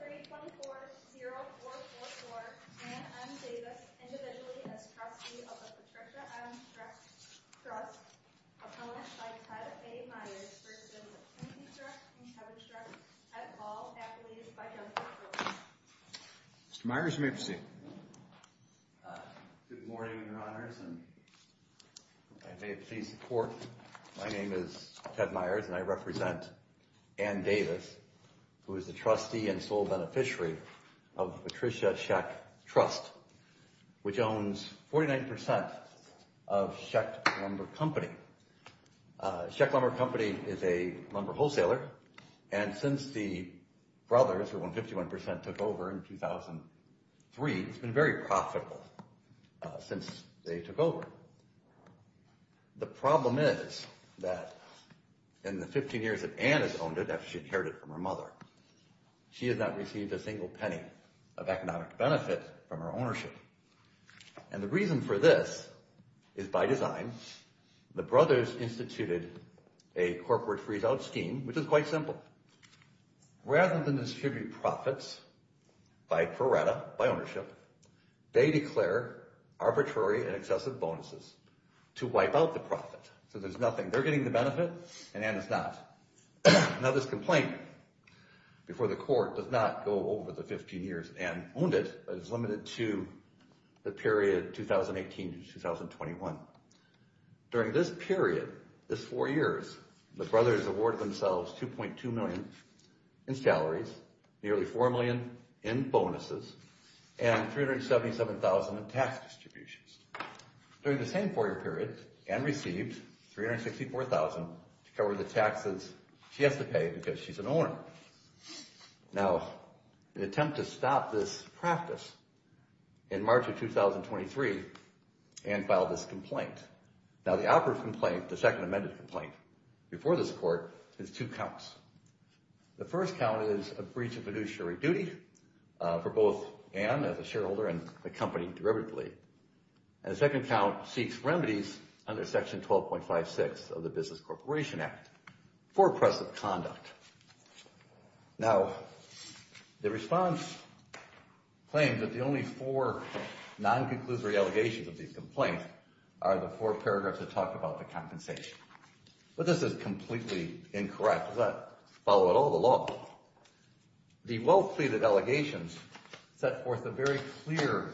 324-0444 and Davis, individually as trustee of the Patricia M Trust Trust opponent by Ted A. Myers versus the Timothy Trust and Kevin's Trust at all accolades by Jennifer Brooks. Mr. Myers you may proceed. Good morning, your honors, and may it please the court, my name is Ted Myers and I represent Ann Davis, who is the trustee and sole beneficiary of Patricia Scheck Trust, which owns 49% of Scheck Lumber Company. Scheck Lumber Company is a lumber wholesaler and since the brothers, who own 51%, took over in 2003, it's been very profitable since they took over. The problem is that in the 15 years that Ann has owned it, after she inherited it from her mother, she has not received a single penny of economic benefit from her ownership. And the reason for this is by design. The brothers instituted a corporate freeze-out scheme, which is quite simple. Rather than distribute profits by pro rata, by ownership, they declare arbitrary and excessive bonuses to wipe out the profit. So there's nothing. They're getting the benefit and Ann is not. Now this complaint before the court does not go over the 15 years Ann owned it, but it's limited to the period 2018 to 2021. During this period, this four years, the brothers awarded themselves $2.2 million in salaries, nearly $4 million in bonuses, and $377,000 in tax distributions. During the same four year period, Ann received $364,000 to cover the taxes she has to pay because she's an owner. Now, in an attempt to stop this practice, in March of 2023, Ann filed this complaint. Now the operative complaint, the second amended complaint, before this court is two counts. The first count is a breach of fiduciary duty for both Ann as a shareholder and the company derivatively. And the second count seeks remedies under section 12.56 of the Business Corporation Act for oppressive conduct. Now, the response claims that the only four non-conclusory allegations of these complaints are the four paragraphs that talk about the compensation. But this is completely incorrect. Does that follow at all the law? The well-pleaded allegations set forth a very clear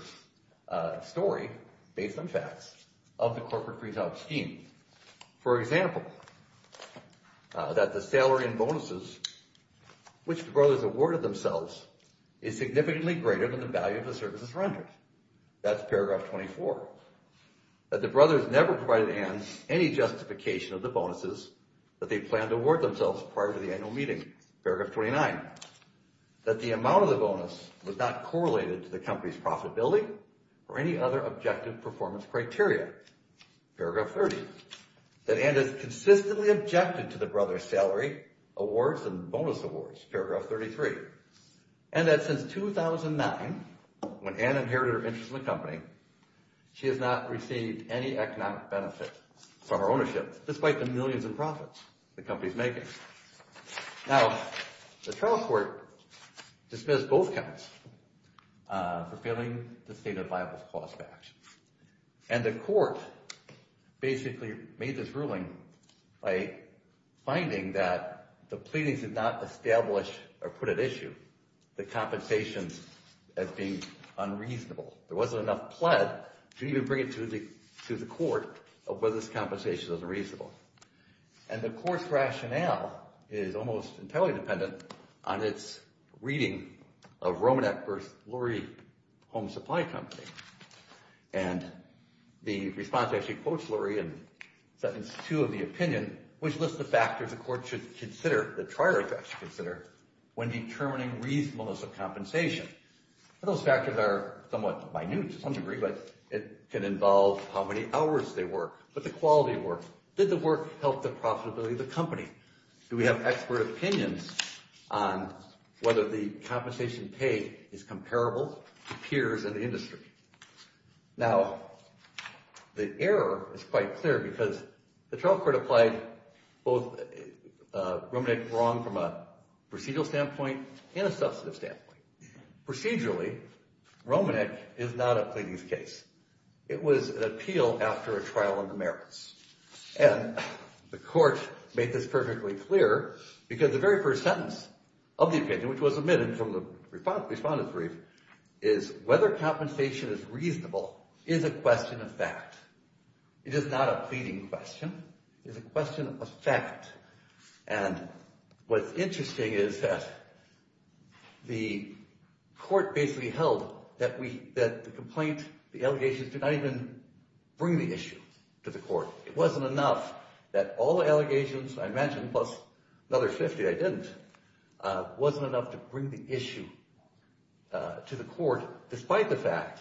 story, based on facts, of the corporate freeze-out scheme. For example, that the salary and bonuses which the brothers awarded themselves is significantly greater than the value of the services rendered. That's paragraph 24. That the brothers never provided Ann any justification of the bonuses that they planned to award themselves prior to the annual meeting, paragraph 29. That the amount of the bonus was not correlated to the company's profitability or any other objective performance criteria, paragraph 30. That Ann has consistently objected to the brothers' salary, awards, and bonus awards, paragraph 33. And that since 2009, when Ann inherited her interest in the company, she has not received any economic benefit from her ownership, despite the millions in profits the company is making. Now, the trial court dismissed both counts for failing the State of the Bible's clause match. And the court basically made this ruling by finding that the pleadings did not establish or put at issue the compensation as being unreasonable. There wasn't enough pled to even bring it to the court of whether this compensation was reasonable. And the court's rationale is almost entirely dependent on its reading of Romanek v. Lurie, Home Supply Company. And the response actually quotes Lurie in sentence two of the opinion, which lists the factors the court should consider, the trial court should consider, when determining reasonableness of compensation. Those factors are somewhat minute to some degree, but it can involve how many hours they work, what the quality were. Did the work help the profitability of the company? Do we have expert opinions on whether the compensation paid is comparable to peers in the industry? Now, the error is quite clear because the trial court applied both Romanek wrong from a procedural standpoint and a substantive standpoint. Procedurally, Romanek is not a pleadings case. It was an appeal after a trial in the merits. And the court made this perfectly clear because the very first sentence of the opinion, which was omitted from the respondent's brief, is whether compensation is reasonable is a question of fact. It is not a pleading question. It is a question of fact. And what's interesting is that the court basically held that the complaint, the allegations, did not even bring the issue to the court. It wasn't enough that all the allegations, I imagine, plus another 50 I didn't, wasn't enough to bring the issue to the court, despite the fact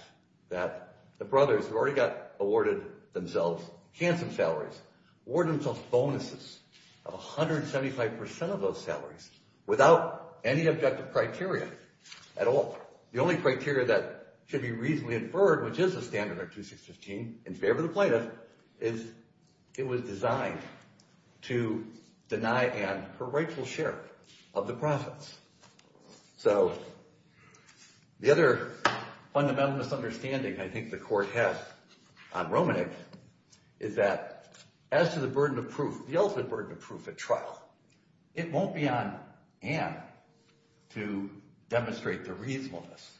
that the brothers who already got awarded themselves handsome salaries, awarded themselves bonuses of 175% of those salaries without any objective criteria at all. The only criteria that should be reasonably inferred, which is a standard under 2615 in favor of the plaintiff, is it was designed to deny Anne her rightful share of the profits. So the other fundamental misunderstanding I think the court has on Romanek is that as to the burden of proof, the ultimate burden of proof at trial, it won't be on Anne to demonstrate the reasonableness.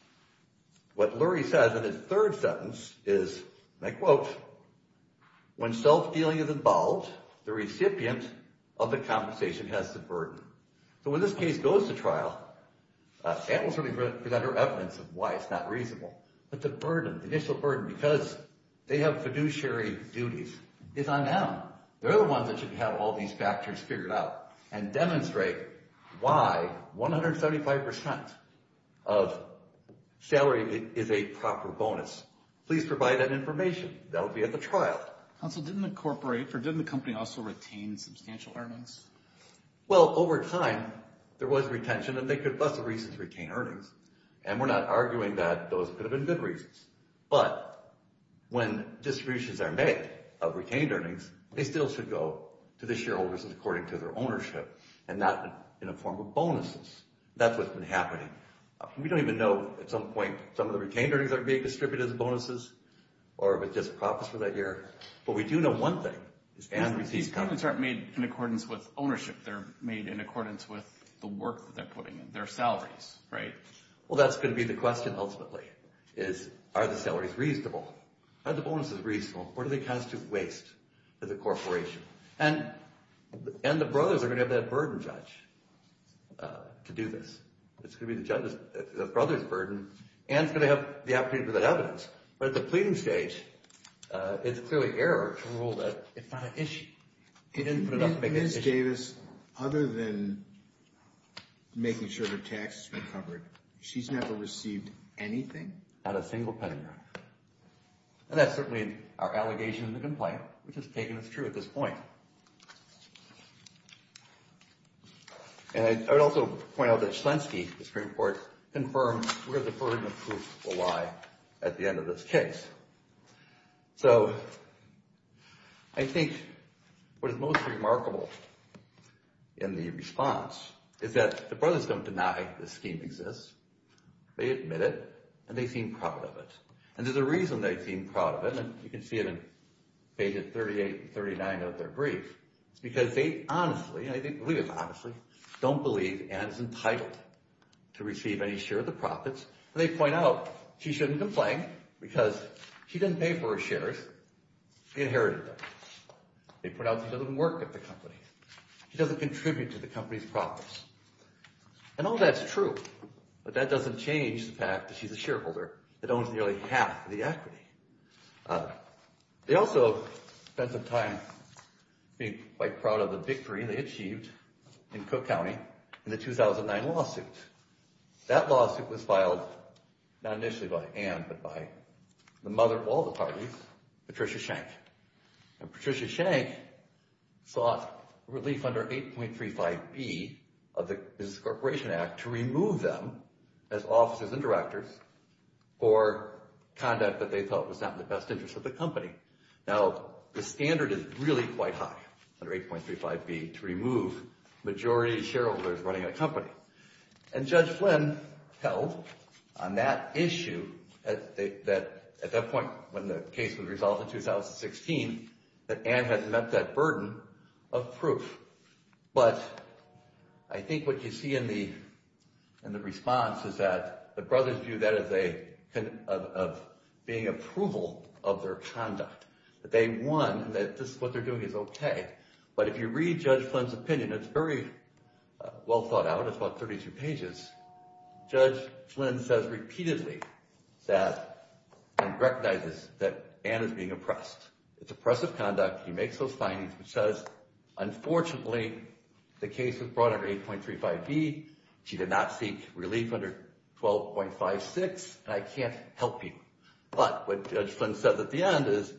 What Lurie says in his third sentence is, and I quote, when self-dealing is involved, the recipient of the compensation has the burden. So when this case goes to trial, Anne will certainly present her evidence of why it's not reasonable. But the burden, the initial burden, because they have fiduciary duties, is on Anne. They're the ones that should have all these factors figured out and demonstrate why 175% of salary is a proper bonus. Please provide that information. That will be at the trial. Counsel, didn't the corporate, or didn't the company also retain substantial earnings? Well, over time, there was retention, and they could, for lots of reasons, retain earnings. And we're not arguing that those could have been good reasons. But when distributions are made of retained earnings, they still should go to the shareholders according to their ownership and not in a form of bonuses. That's what's been happening. We don't even know at some point if some of the retained earnings are being distributed as bonuses or if it's just profits for that year. But we do know one thing. These payments aren't made in accordance with ownership. They're made in accordance with the work that they're putting in, their salaries, right? Well, that's going to be the question, ultimately, is are the salaries reasonable? Are the bonuses reasonable? What are the accounts to waste for the corporation? And the brothers are going to have that burden, Judge, to do this. It's going to be the brother's burden. Anne's going to have the opportunity for that evidence. But at the pleading stage, it's clearly error to rule that it's not an issue. You didn't put it up to make it an issue. Ms. Davis, other than making sure her tax has been covered, she's never received anything? Not a single penny. And that's certainly our allegation in the complaint, which has taken us through at this point. And I would also point out that Shlensky, the Supreme Court, confirmed where the burden of proof will lie at the end of this case. So I think what is most remarkable in the response is that the brothers don't deny this scheme exists. They admit it, and they seem proud of it. And there's a reason they seem proud of it. You can see it in pages 38 and 39 of their brief. It's because they honestly, I believe it's honestly, don't believe Anne is entitled to receive any share of the profits. And they point out she shouldn't complain because she didn't pay for her shares. She inherited them. They point out she doesn't work at the company. She doesn't contribute to the company's profits. And all that's true. But that doesn't change the fact that she's a shareholder that owns nearly half of the equity. They also spent some time being quite proud of the victory they achieved in Cook County in the 2009 lawsuit. That lawsuit was filed not initially by Anne, but by the mother of all the parties, Patricia Shank. And Patricia Shank sought relief under 8.35B of the Business Corporation Act to remove them as officers and directors for conduct that they felt was not in the best interest of the company. Now, the standard is really quite high under 8.35B to remove majority shareholders running a company. And Judge Flynn held on that issue that at that point when the case was resolved in 2016, that Anne had met that burden of proof. But I think what you see in the response is that the brothers view that as being approval of their conduct. That they won, that this is what they're doing is okay. But if you read Judge Flynn's opinion, it's very well thought out. It's about 32 pages. Judge Flynn says repeatedly that and recognizes that Anne is being oppressed. It's oppressive conduct. He makes those findings. He says, unfortunately, the case was brought under 8.35B. She did not seek relief under 12.56, and I can't help you. But what Judge Flynn said at the end is,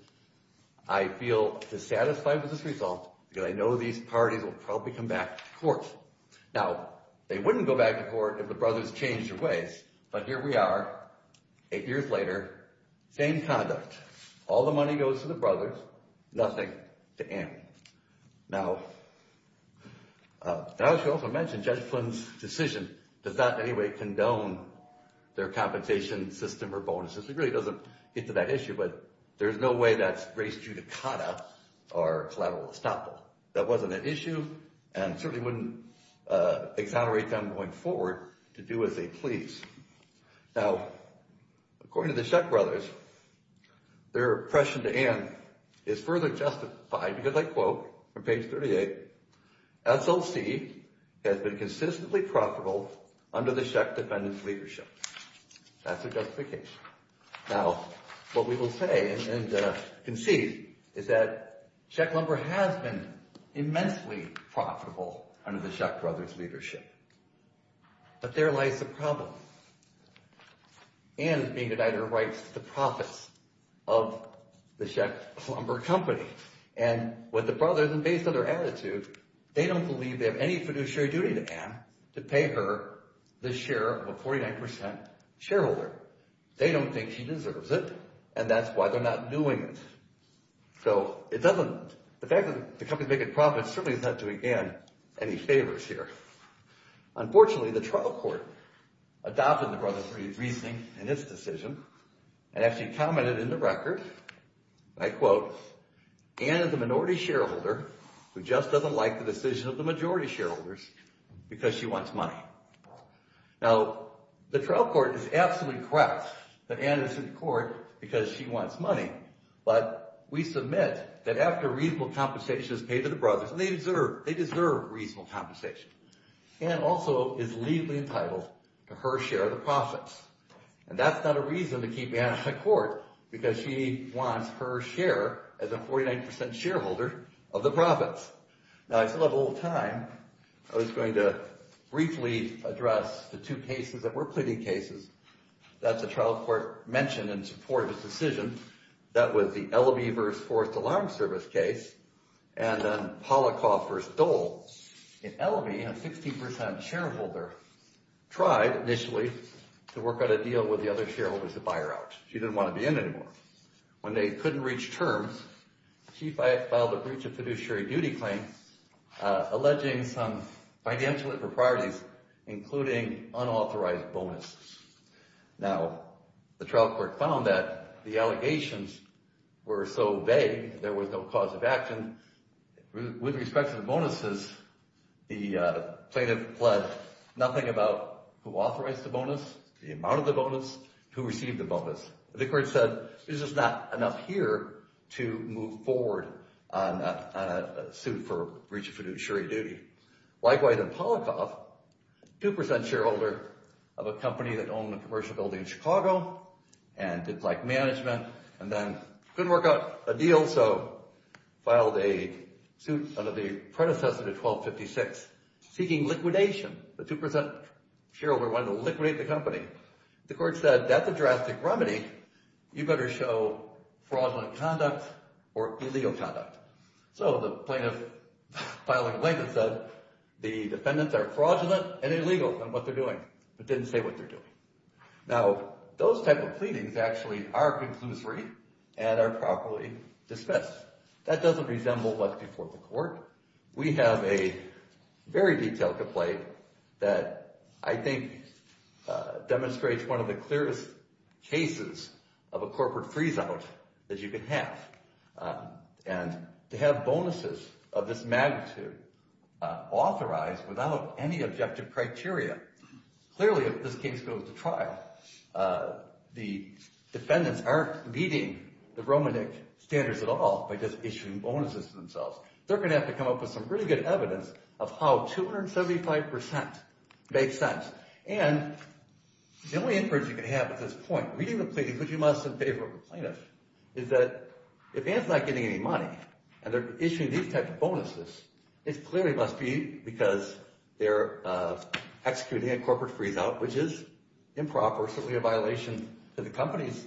I feel dissatisfied with this result because I know these parties will probably come back to court. Now, they wouldn't go back to court if the brothers changed their ways. But here we are, eight years later, same conduct. All the money goes to the brothers, nothing to Anne. Now, I should also mention Judge Flynn's decision does not in any way condone their compensation system or bonuses. It really doesn't get to that issue, but there's no way that's race judicata or collateral estoppel. That wasn't an issue and certainly wouldn't exonerate them going forward to do as they please. Now, according to the Sheck brothers, their oppression to Anne is further justified because, I quote from page 38, SLC has been consistently profitable under the Sheck defendants' leadership. That's their justification. Now, what we will say and concede is that Sheck Lumber has been immensely profitable under the Sheck brothers' leadership. But there lies the problem. Anne is being denied her rights to the profits of the Sheck Lumber Company. And with the brothers, and based on their attitude, they don't believe they have any fiduciary duty to Anne to pay her the share of a 49% shareholder. They don't think she deserves it, and that's why they're not doing it. So it doesn't – the fact that the company's making profits certainly doesn't do Anne any favors here. Unfortunately, the trial court adopted the brothers' reasoning in its decision and actually commented in the record, I quote, Anne is a minority shareholder who just doesn't like the decision of the majority shareholders because she wants money. Now, the trial court is absolutely correct that Anne is in court because she wants money, but we submit that after reasonable compensation is paid to the brothers – and they deserve reasonable compensation – Anne also is legally entitled to her share of the profits. And that's not a reason to keep Anne in court because she wants her share as a 49% shareholder of the profits. Now, I still have a little time. I was going to briefly address the two cases that were pleading cases that the trial court mentioned in support of its decision. That was the Ellaby v. Forrest alarm service case and then Polikoff v. Dole. In Ellaby, a 60% shareholder tried initially to work out a deal with the other shareholders to buy her out. She didn't want to be in anymore. When they couldn't reach terms, she filed a breach of fiduciary duty claim alleging some financial improprieties, including unauthorized bonuses. Now, the trial court found that the allegations were so vague there was no cause of action. With respect to the bonuses, the plaintiff pled nothing about who authorized the bonus, the amount of the bonus, who received the bonus. The court said, this is not enough here to move forward on a suit for breach of fiduciary duty. Likewise, in Polikoff, a 2% shareholder of a company that owned a commercial building in Chicago and didn't like management and then couldn't work out a deal, so filed a suit under the predecessor to 1256 seeking liquidation. The 2% shareholder wanted to liquidate the company. The court said, that's a drastic remedy. You better show fraudulent conduct or illegal conduct. So the plaintiff filed a claim and said, the defendants are fraudulent and illegal in what they're doing, but didn't say what they're doing. Now, those type of pleadings actually are conclusory and are properly discussed. That doesn't resemble what's before the court. We have a very detailed complaint that I think demonstrates one of the clearest cases of a corporate freezeout that you can have. And to have bonuses of this magnitude authorized without any objective criteria. Clearly, if this case goes to trial, the defendants aren't meeting the Romanik standards at all by just issuing bonuses to themselves. They're going to have to come up with some really good evidence of how 275% makes sense. And the only inference you can have at this point, reading the pleadings, which you must in favor of the plaintiff, is that if Anne's not getting any money, and they're issuing these types of bonuses, it clearly must be because they're executing a corporate freezeout, which is improper, certainly a violation to the company's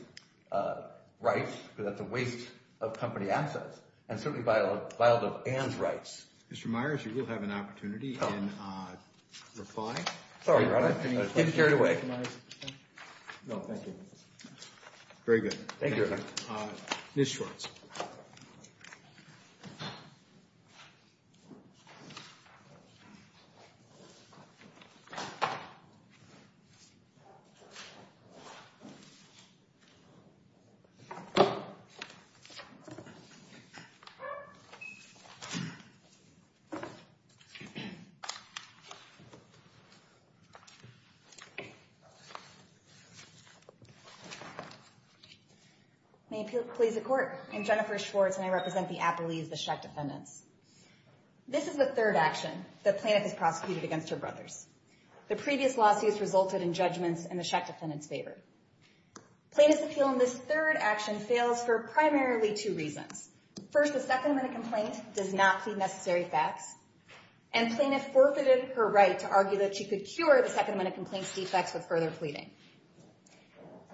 rights because that's a waste of company assets, and certainly vile of Anne's rights. Mr. Myers, you will have an opportunity in reply. Sorry about that. Getting carried away. No, thank you. Very good. Thank you. Ms. Schwartz. May it please the Court. I'm Jennifer Schwartz, and I represent the Appellees, the Sheck defendants. This is the third action the plaintiff has prosecuted against her brothers. The previous lawsuits resulted in judgments in the Sheck defendants' favor. Plaintiff's appeal in this third action fails for primarily two reasons. First, the Second Amendment complaint does not feed necessary facts, and plaintiff forfeited her right to argue that she could cure the Second Amendment complaint's defects with further pleading.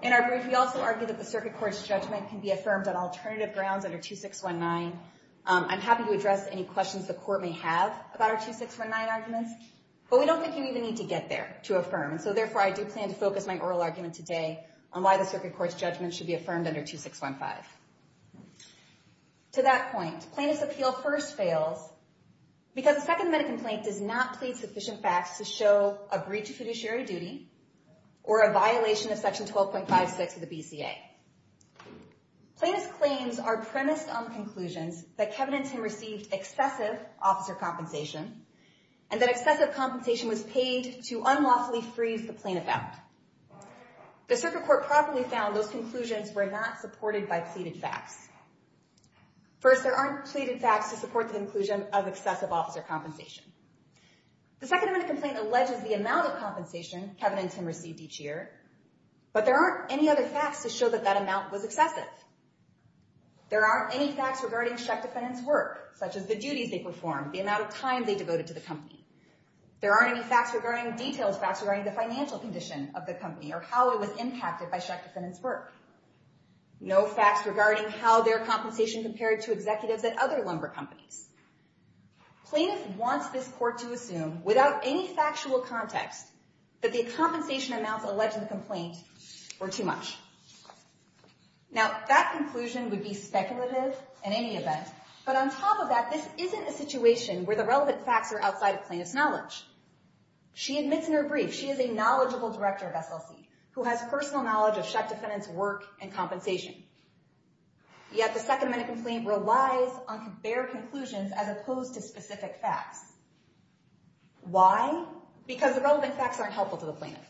In our brief, we also argue that the Circuit Court's judgment can be affirmed on alternative grounds under 2619. I'm happy to address any questions the Court may have about our 2619 arguments, but we don't think you even need to get there to affirm, and so therefore I do plan to focus my oral argument today on why the Circuit Court's judgment should be affirmed under 2615. To that point, plaintiff's appeal first fails because the Second Amendment complaint does not plead sufficient facts to show a breach of fiduciary duty or a violation of Section 12.56 of the BCA. Plaintiff's claims are premised on conclusions that Kevin and Tim received excessive officer compensation and that excessive compensation was paid to unlawfully freeze the plaintiff out. The Circuit Court properly found those conclusions were not supported by pleaded facts. First, there aren't pleaded facts to support the inclusion of excessive officer compensation. The Second Amendment complaint alleges the amount of compensation Kevin and Tim received each year, but there aren't any other facts to show that that amount was excessive. There aren't any facts regarding Shek Defendant's work, such as the duties they performed, the amount of time they devoted to the company. There aren't any facts regarding details facts regarding the financial condition of the company or how it was impacted by Shek Defendant's work. No facts regarding how their compensation compared to executives at other lumber companies. Plaintiff wants this court to assume, without any factual context, that the compensation amounts alleged in the complaint were too much. Now, that conclusion would be speculative in any event, but on top of that, this isn't a situation where the relevant facts are outside of plaintiff's knowledge. She admits in her brief she is a knowledgeable director of SLC who has personal knowledge of Shek Defendant's work and compensation, yet the Second Amendment complaint relies on bare conclusions as opposed to specific facts. Why? Because the relevant facts aren't helpful to the plaintiff.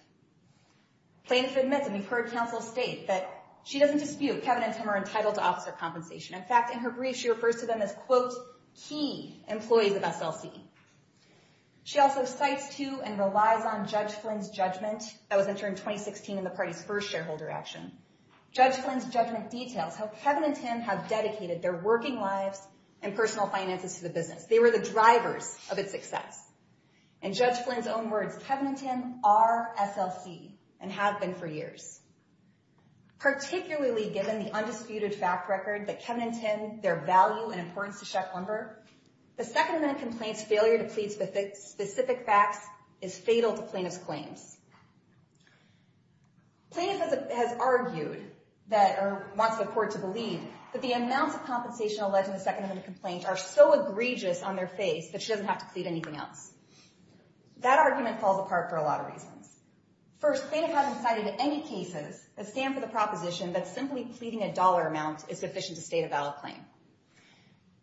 Plaintiff admits, and we've heard counsel state, that she doesn't dispute Kevin and Tim are entitled to officer compensation. In fact, in her brief, she refers to them as, quote, key employees of SLC. She also cites to and relies on Judge Flynn's judgment that was entered in 2016 in the party's first shareholder action. Judge Flynn's judgment details how Kevin and Tim have dedicated their working lives and personal finances to the business. They were the drivers of its success. In Judge Flynn's own words, Kevin and Tim are SLC and have been for years. Particularly given the undisputed fact record that Kevin and Tim, their value and importance to Shek Lumber, the Second Amendment complaint's failure to plead specific facts is fatal to plaintiff's claims. Plaintiff has argued or wants the court to believe that the amounts of compensation alleged in the Second Amendment complaint are so egregious on their face that she doesn't have to plead anything else. That argument falls apart for a lot of reasons. First, plaintiff hasn't cited any cases that stand for the proposition that simply pleading a dollar amount is sufficient to state a valid claim.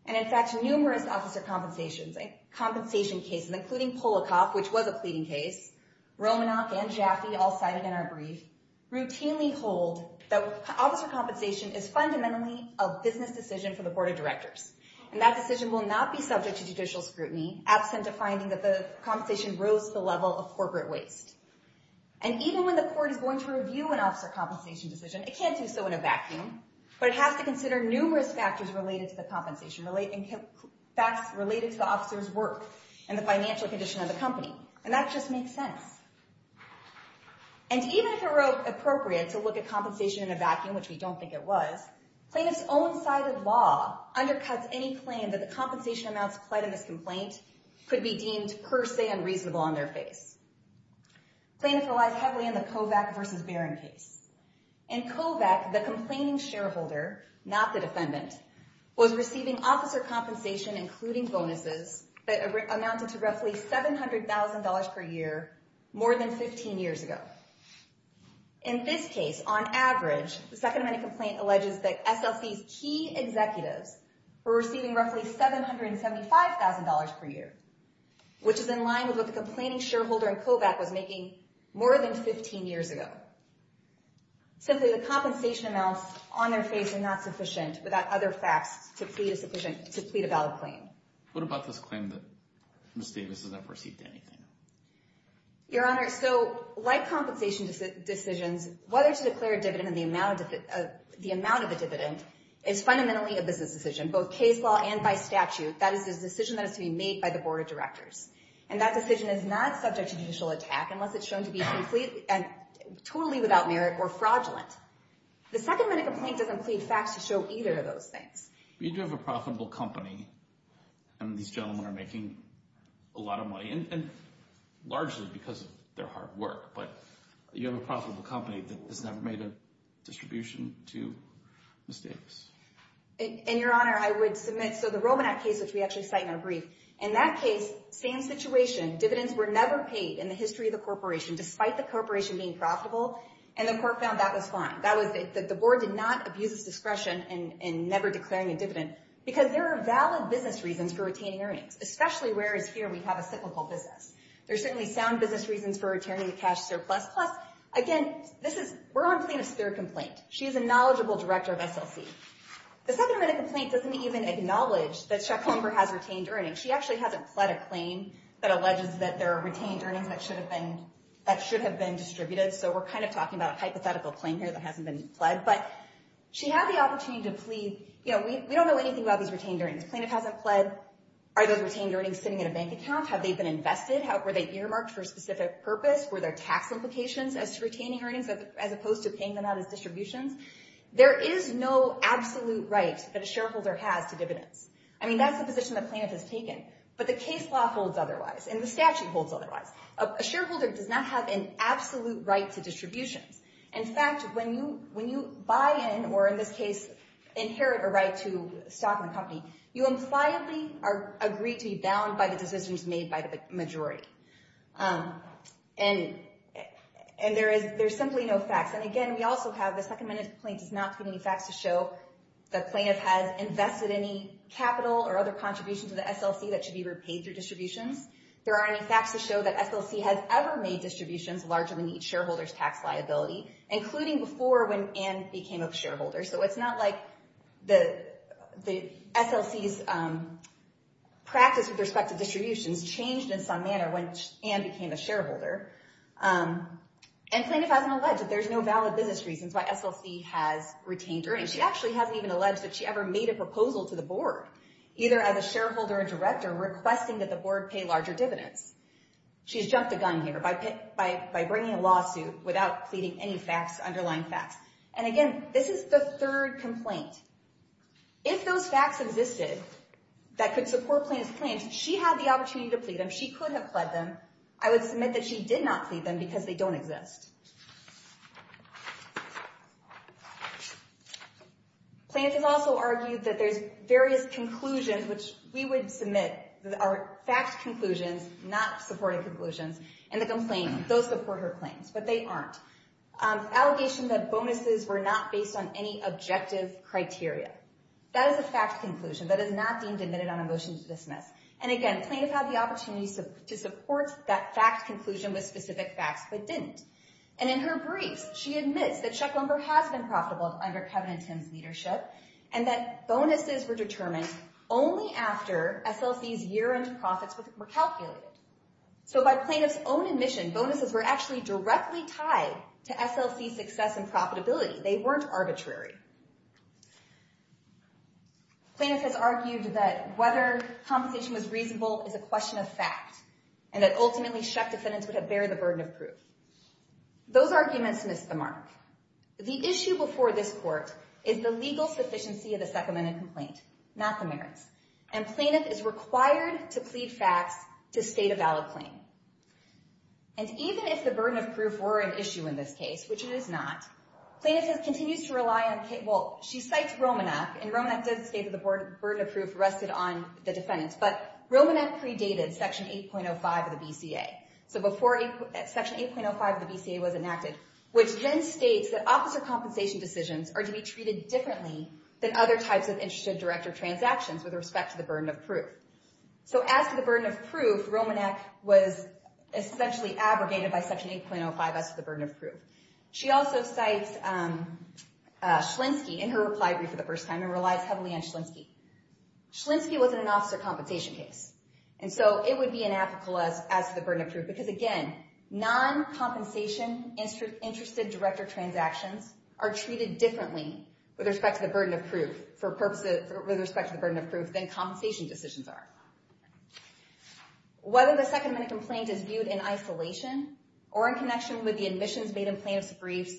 And in fact, numerous officer compensation cases, including Polakoff, which was a pleading case, Romanoff, and Jaffe, all cited in our brief, routinely hold that officer compensation is fundamentally a business decision for the board of directors. And that decision will not be subject to judicial scrutiny, absent a finding that the compensation rose to the level of corporate waste. And even when the court is going to review an officer compensation decision, it can't do so in a vacuum. But it has to consider numerous factors related to the compensation, facts related to the officer's work and the financial condition of the company. And that just makes sense. And even if it were appropriate to look at compensation in a vacuum, which we don't think it was, plaintiff's own side of law undercuts any claim that the compensation amounts applied in this complaint could be deemed per se unreasonable on their face. Plaintiff relies heavily on the Kovac versus Barron case. In Kovac, the complaining shareholder, not the defendant, was receiving officer compensation, including bonuses, that amounted to roughly $700,000 per year more than 15 years ago. In this case, on average, the Second Amendment complaint alleges that SLC's key executives were receiving roughly $775,000 per year, which is in line with what the complaining shareholder in Kovac was making more than 15 years ago. Simply, the compensation amounts on their face are not sufficient without other facts to plead a valid claim. What about this claim that Ms. Davis has never received anything? Your Honor, so like compensation decisions, whether to declare a dividend and the amount of the dividend is fundamentally a business decision, both case law and by statute. That is a decision that has to be made by the board of directors. And that decision is not subject to judicial attack unless it's shown to be completely and totally without merit or fraudulent. The Second Amendment complaint doesn't plead facts to show either of those things. You do have a profitable company, and these gentlemen are making a lot of money, and largely because of their hard work. But you have a profitable company that has never made a distribution to Ms. Davis. And, Your Honor, I would submit, so the Romanat case, which we actually cite in our brief, in that case, same situation. Dividends were never paid in the history of the corporation, despite the corporation being profitable, and the court found that was fine. That was that the board did not abuse its discretion in never declaring a dividend. Because there are valid business reasons for retaining earnings, especially whereas here we have a cyclical business. There are certainly sound business reasons for returning the cash surplus. Plus, again, this is, we're on the plane of spirit complaint. She is a knowledgeable director of SLC. The Second Amendment complaint doesn't even acknowledge that Chuck Comber has retained earnings. She actually hasn't pled a claim that alleges that there are retained earnings that should have been distributed. So we're kind of talking about a hypothetical claim here that hasn't been pled. But she had the opportunity to plead, you know, we don't know anything about these retained earnings. Plaintiff hasn't pled. Are those retained earnings sitting in a bank account? Have they been invested? Were they earmarked for a specific purpose? Were there tax implications as to retaining earnings as opposed to paying them out as distributions? There is no absolute right that a shareholder has to dividends. I mean, that's the position the plaintiff has taken. But the case law holds otherwise, and the statute holds otherwise. A shareholder does not have an absolute right to distributions. In fact, when you buy in, or in this case, inherit a right to stock in the company, you impliedly are agreed to be bound by the decisions made by the majority. And there's simply no facts. And, again, we also have the Second Amendment complaint does not have any facts to show the plaintiff has invested any capital or other contributions to the SLC that should be repaid through distributions. There aren't any facts to show that SLC has ever made distributions larger than each shareholder's tax liability, including before when Ann became a shareholder. So it's not like the SLC's practice with respect to distributions changed in some manner when Ann became a shareholder. And plaintiff hasn't alleged that there's no valid business reasons why SLC has retained earnings. She actually hasn't even alleged that she ever made a proposal to the board, either as a shareholder or director, requesting that the board pay larger dividends. She's jumped the gun here by bringing a lawsuit without pleading any facts, underlying facts. And, again, this is the third complaint. If those facts existed that could support plaintiff's claims, she had the opportunity to plead them. She could have pled them. I would submit that she did not plead them because they don't exist. Plaintiff also argued that there's various conclusions, which we would submit are fact conclusions, not supporting conclusions. And the complaints, those support her claims, but they aren't. Allegation that bonuses were not based on any objective criteria. That is a fact conclusion that is not deemed admitted on a motion to dismiss. And, again, plaintiff had the opportunity to support that fact conclusion with specific facts but didn't. And in her briefs, she admits that Chuck Lumber has been profitable under Kevin and Tim's leadership and that bonuses were determined only after SLC's year-end profits were calculated. So by plaintiff's own admission, bonuses were actually directly tied to SLC's success and profitability. They weren't arbitrary. Plaintiff has argued that whether compensation was reasonable is a question of fact and that ultimately, Chuck defendants would have bared the burden of proof. Those arguments missed the mark. The issue before this court is the legal sufficiency of the second-minute complaint, not the merits. And plaintiff is required to plead facts to state a valid claim. And even if the burden of proof were an issue in this case, which it is not, plaintiff continues to rely on, well, she cites Romanek, and Romanek did state that the burden of proof rested on the defendants. But Romanek predated Section 8.05 of the BCA. So before Section 8.05 of the BCA was enacted, which then states that officer compensation decisions are to be treated differently than other types of interested director transactions with respect to the burden of proof. So as to the burden of proof, Romanek was essentially abrogated by Section 8.05 as to the burden of proof. She also cites Schlinsky in her reply brief for the first time and relies heavily on Schlinsky. Schlinsky was in an officer compensation case. And so it would be inapplicable as to the burden of proof because, again, non-compensation interested director transactions are treated differently with respect to the burden of proof than compensation decisions are. Whether the second-minute complaint is viewed in isolation or in connection with the admissions made in plaintiff's briefs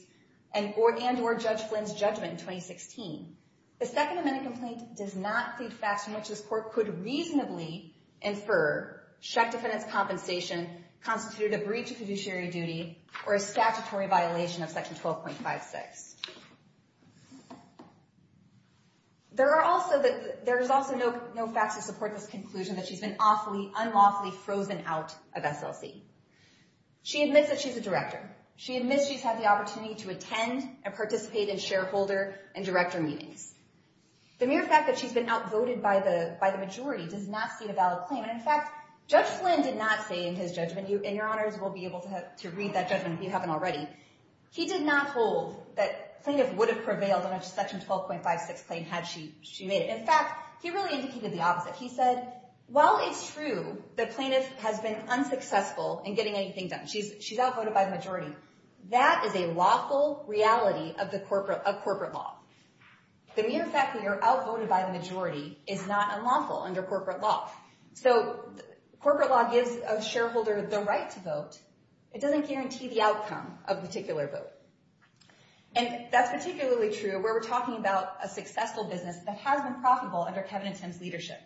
and or Judge Flynn's judgment in 2016, the second-minute complaint does not feed facts in which this court could reasonably infer Shek defendant's compensation constituted a breach of fiduciary duty or a statutory violation of Section 12.56. There is also no facts to support this conclusion that she's been unlawfully frozen out of SLC. She admits that she's a director. She admits she's had the opportunity to attend and participate in shareholder and director meetings. The mere fact that she's been outvoted by the majority does not state a valid claim. And in fact, Judge Flynn did not say in his judgment, and your honors will be able to read that judgment if you haven't already, he did not hold that plaintiff would have prevailed on a Section 12.56 claim had she made it. In fact, he really indicated the opposite. He said, while it's true that plaintiff has been unsuccessful in getting anything done, she's outvoted by the majority. That is a lawful reality of corporate law. The mere fact that you're outvoted by the majority is not unlawful under corporate law. So corporate law gives a shareholder the right to vote. It doesn't guarantee the outcome of a particular vote. And that's particularly true where we're talking about a successful business that has been profitable under Kevin and Tim's leadership.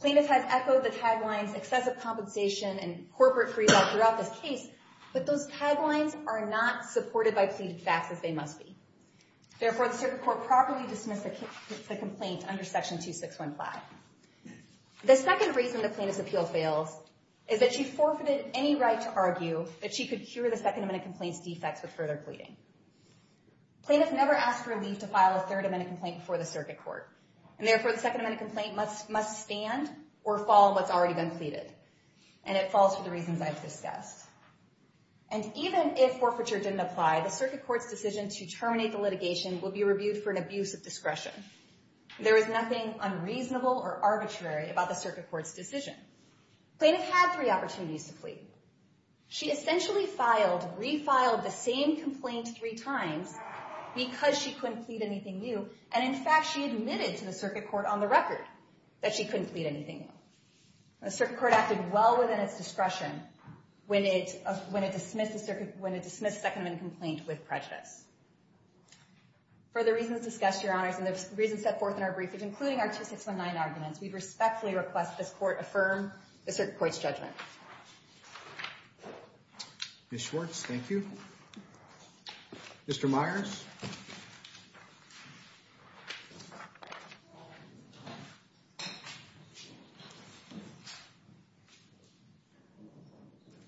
Plaintiff has echoed the taglines, excessive compensation, and corporate free fall throughout this case, but those taglines are not supported by pleaded facts as they must be. Therefore, the Circuit Court properly dismissed the complaint under Section 261. The second reason the plaintiff's appeal fails is that she forfeited any right to argue that she could cure the Second Amendment complaint's defects with further pleading. Plaintiff never asked for a leave to file a Third Amendment complaint before the Circuit Court. And therefore, the Second Amendment complaint must stand or fall on what's already been pleaded. And it falls for the reasons I've discussed. And even if forfeiture didn't apply, the Circuit Court's decision to terminate the litigation will be reviewed for an abuse of discretion. There is nothing unreasonable or arbitrary about the Circuit Court's decision. Plaintiff had three opportunities to plead. She essentially filed, refiled the same complaint three times because she couldn't plead anything new. And in fact, she admitted to the Circuit Court on the record that she couldn't plead anything new. The Circuit Court acted well within its discretion when it dismissed the Second Amendment complaint with prejudice. For the reasons discussed, Your Honors, and the reasons set forth in our brief, including our 2619 arguments, we respectfully request this Court affirm the Circuit Court's judgment. Ms. Schwartz, thank you. Mr. Myers?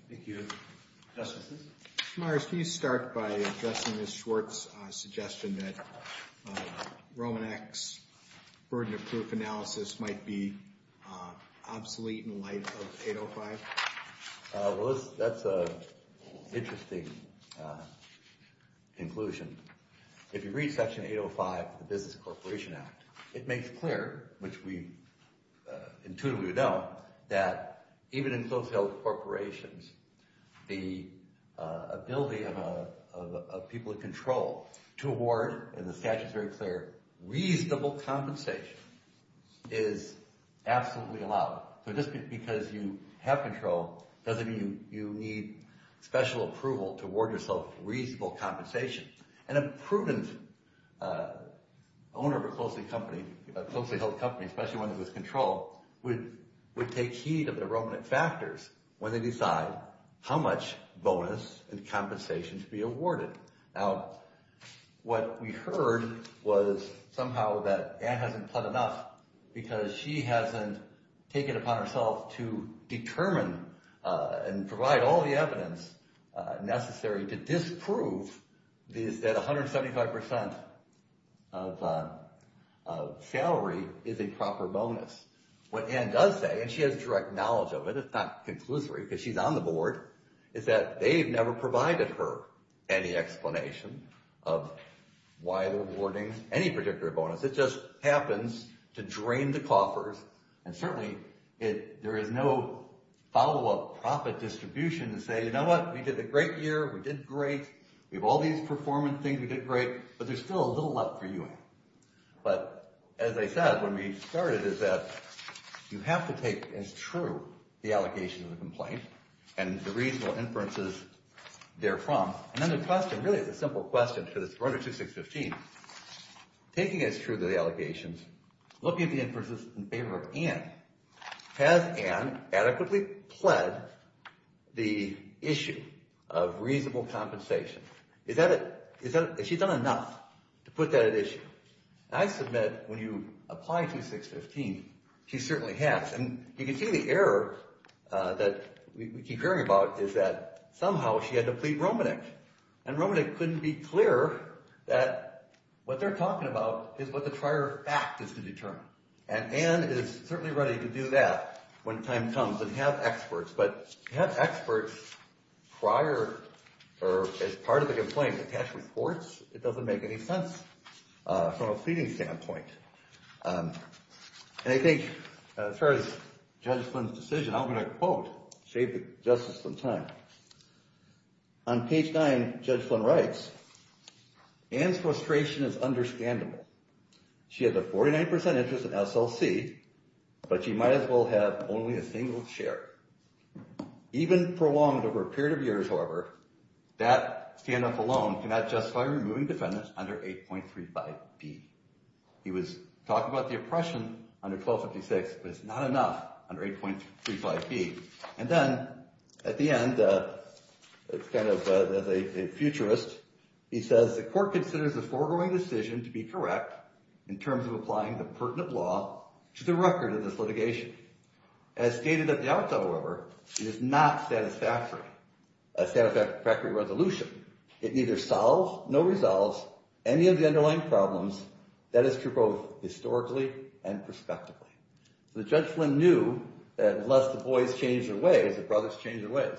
Thank you, Justices. Mr. Myers, can you start by addressing Ms. Schwartz's suggestion that Romanek's burden of proof analysis might be obsolete in light of 805? Well, that's an interesting conclusion. If you read Section 805 of the Business Corporation Act, it makes clear, which we intuitively know, that even in close-held corporations, the ability of people in control to award, and the statute is very clear, reasonable compensation is absolutely allowed. So just because you have control doesn't mean you need special approval to award yourself reasonable compensation. And a prudent owner of a closely-held company, especially one that is in control, would take heed of the Romanek factors when they decide how much bonus and compensation to be awarded. Now, what we heard was somehow that Ann hasn't done enough because she hasn't taken it upon herself to determine and provide all the evidence necessary to disprove that 175% of salary is a proper bonus. What Ann does say, and she has direct knowledge of it, it's not conclusory because she's on the Board, is that they've never provided her any explanation of why they're awarding any particular bonus. It just happens to drain the coffers, and certainly there is no follow-up profit distribution to say, you know what, we did a great year, we did great, we have all these performance things, we did great, but there's still a little left for you, Ann. But as I said when we started is that you have to take as true the allocation of the complaint and the reasonable inferences therefrom. And then the question, really the simple question for this Runder 2615, taking as true the allegations, looking at the inferences in favor of Ann, has Ann adequately pled the issue of reasonable compensation? Has she done enough to put that at issue? I submit when you apply 2615, she certainly has. And you can see the error that we keep hearing about is that somehow she had to plead Romanik. And Romanik couldn't be clearer that what they're talking about is what the prior fact is to determine. And Ann is certainly ready to do that when time comes and have experts. But to have experts prior or as part of the complaint attach reports, it doesn't make any sense. From a pleading standpoint. And I think as far as Judge Flynn's decision, I'm going to quote, save the justice some time. On page 9, Judge Flynn writes, Ann's frustration is understandable. She has a 49% interest in SLC, but she might as well have only a single share. Even prolonged over a period of years, however, that standoff alone cannot justify removing defendants under 8.35B. He was talking about the oppression under 1256, but it's not enough under 8.35B. And then at the end, it's kind of a futurist. He says the court considers the foregoing decision to be correct in terms of applying the pertinent law to the record of this litigation. As stated at the outset, however, it is not satisfactory, a satisfactory resolution. It neither solves nor resolves any of the underlying problems that is true both historically and prospectively. So Judge Flynn knew that unless the boys changed their ways, the brothers changed their ways.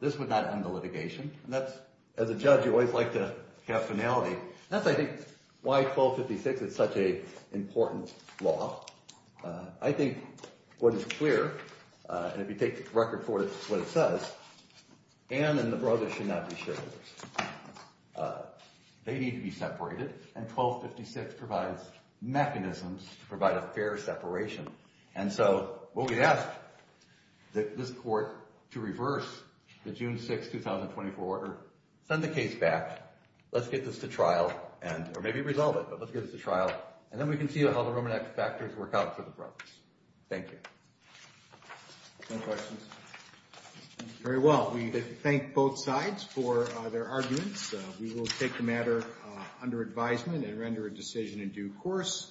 This would not end the litigation. And that's, as a judge, you always like to have finality. That's, I think, why 1256 is such an important law. I think what is clear, and if you take the record for what it says, Anne and the brothers should not be shareholders. They need to be separated, and 1256 provides mechanisms to provide a fair separation. And so we'll get asked that this court to reverse the June 6, 2024 order, send the case back, let's get this to trial, or maybe resolve it, but let's get this to trial. And then we can see how the Roman Act factors work out for the brothers. Thank you. Any questions? Very well. We thank both sides for their arguments. We will take the matter under advisement and render a decision in due course.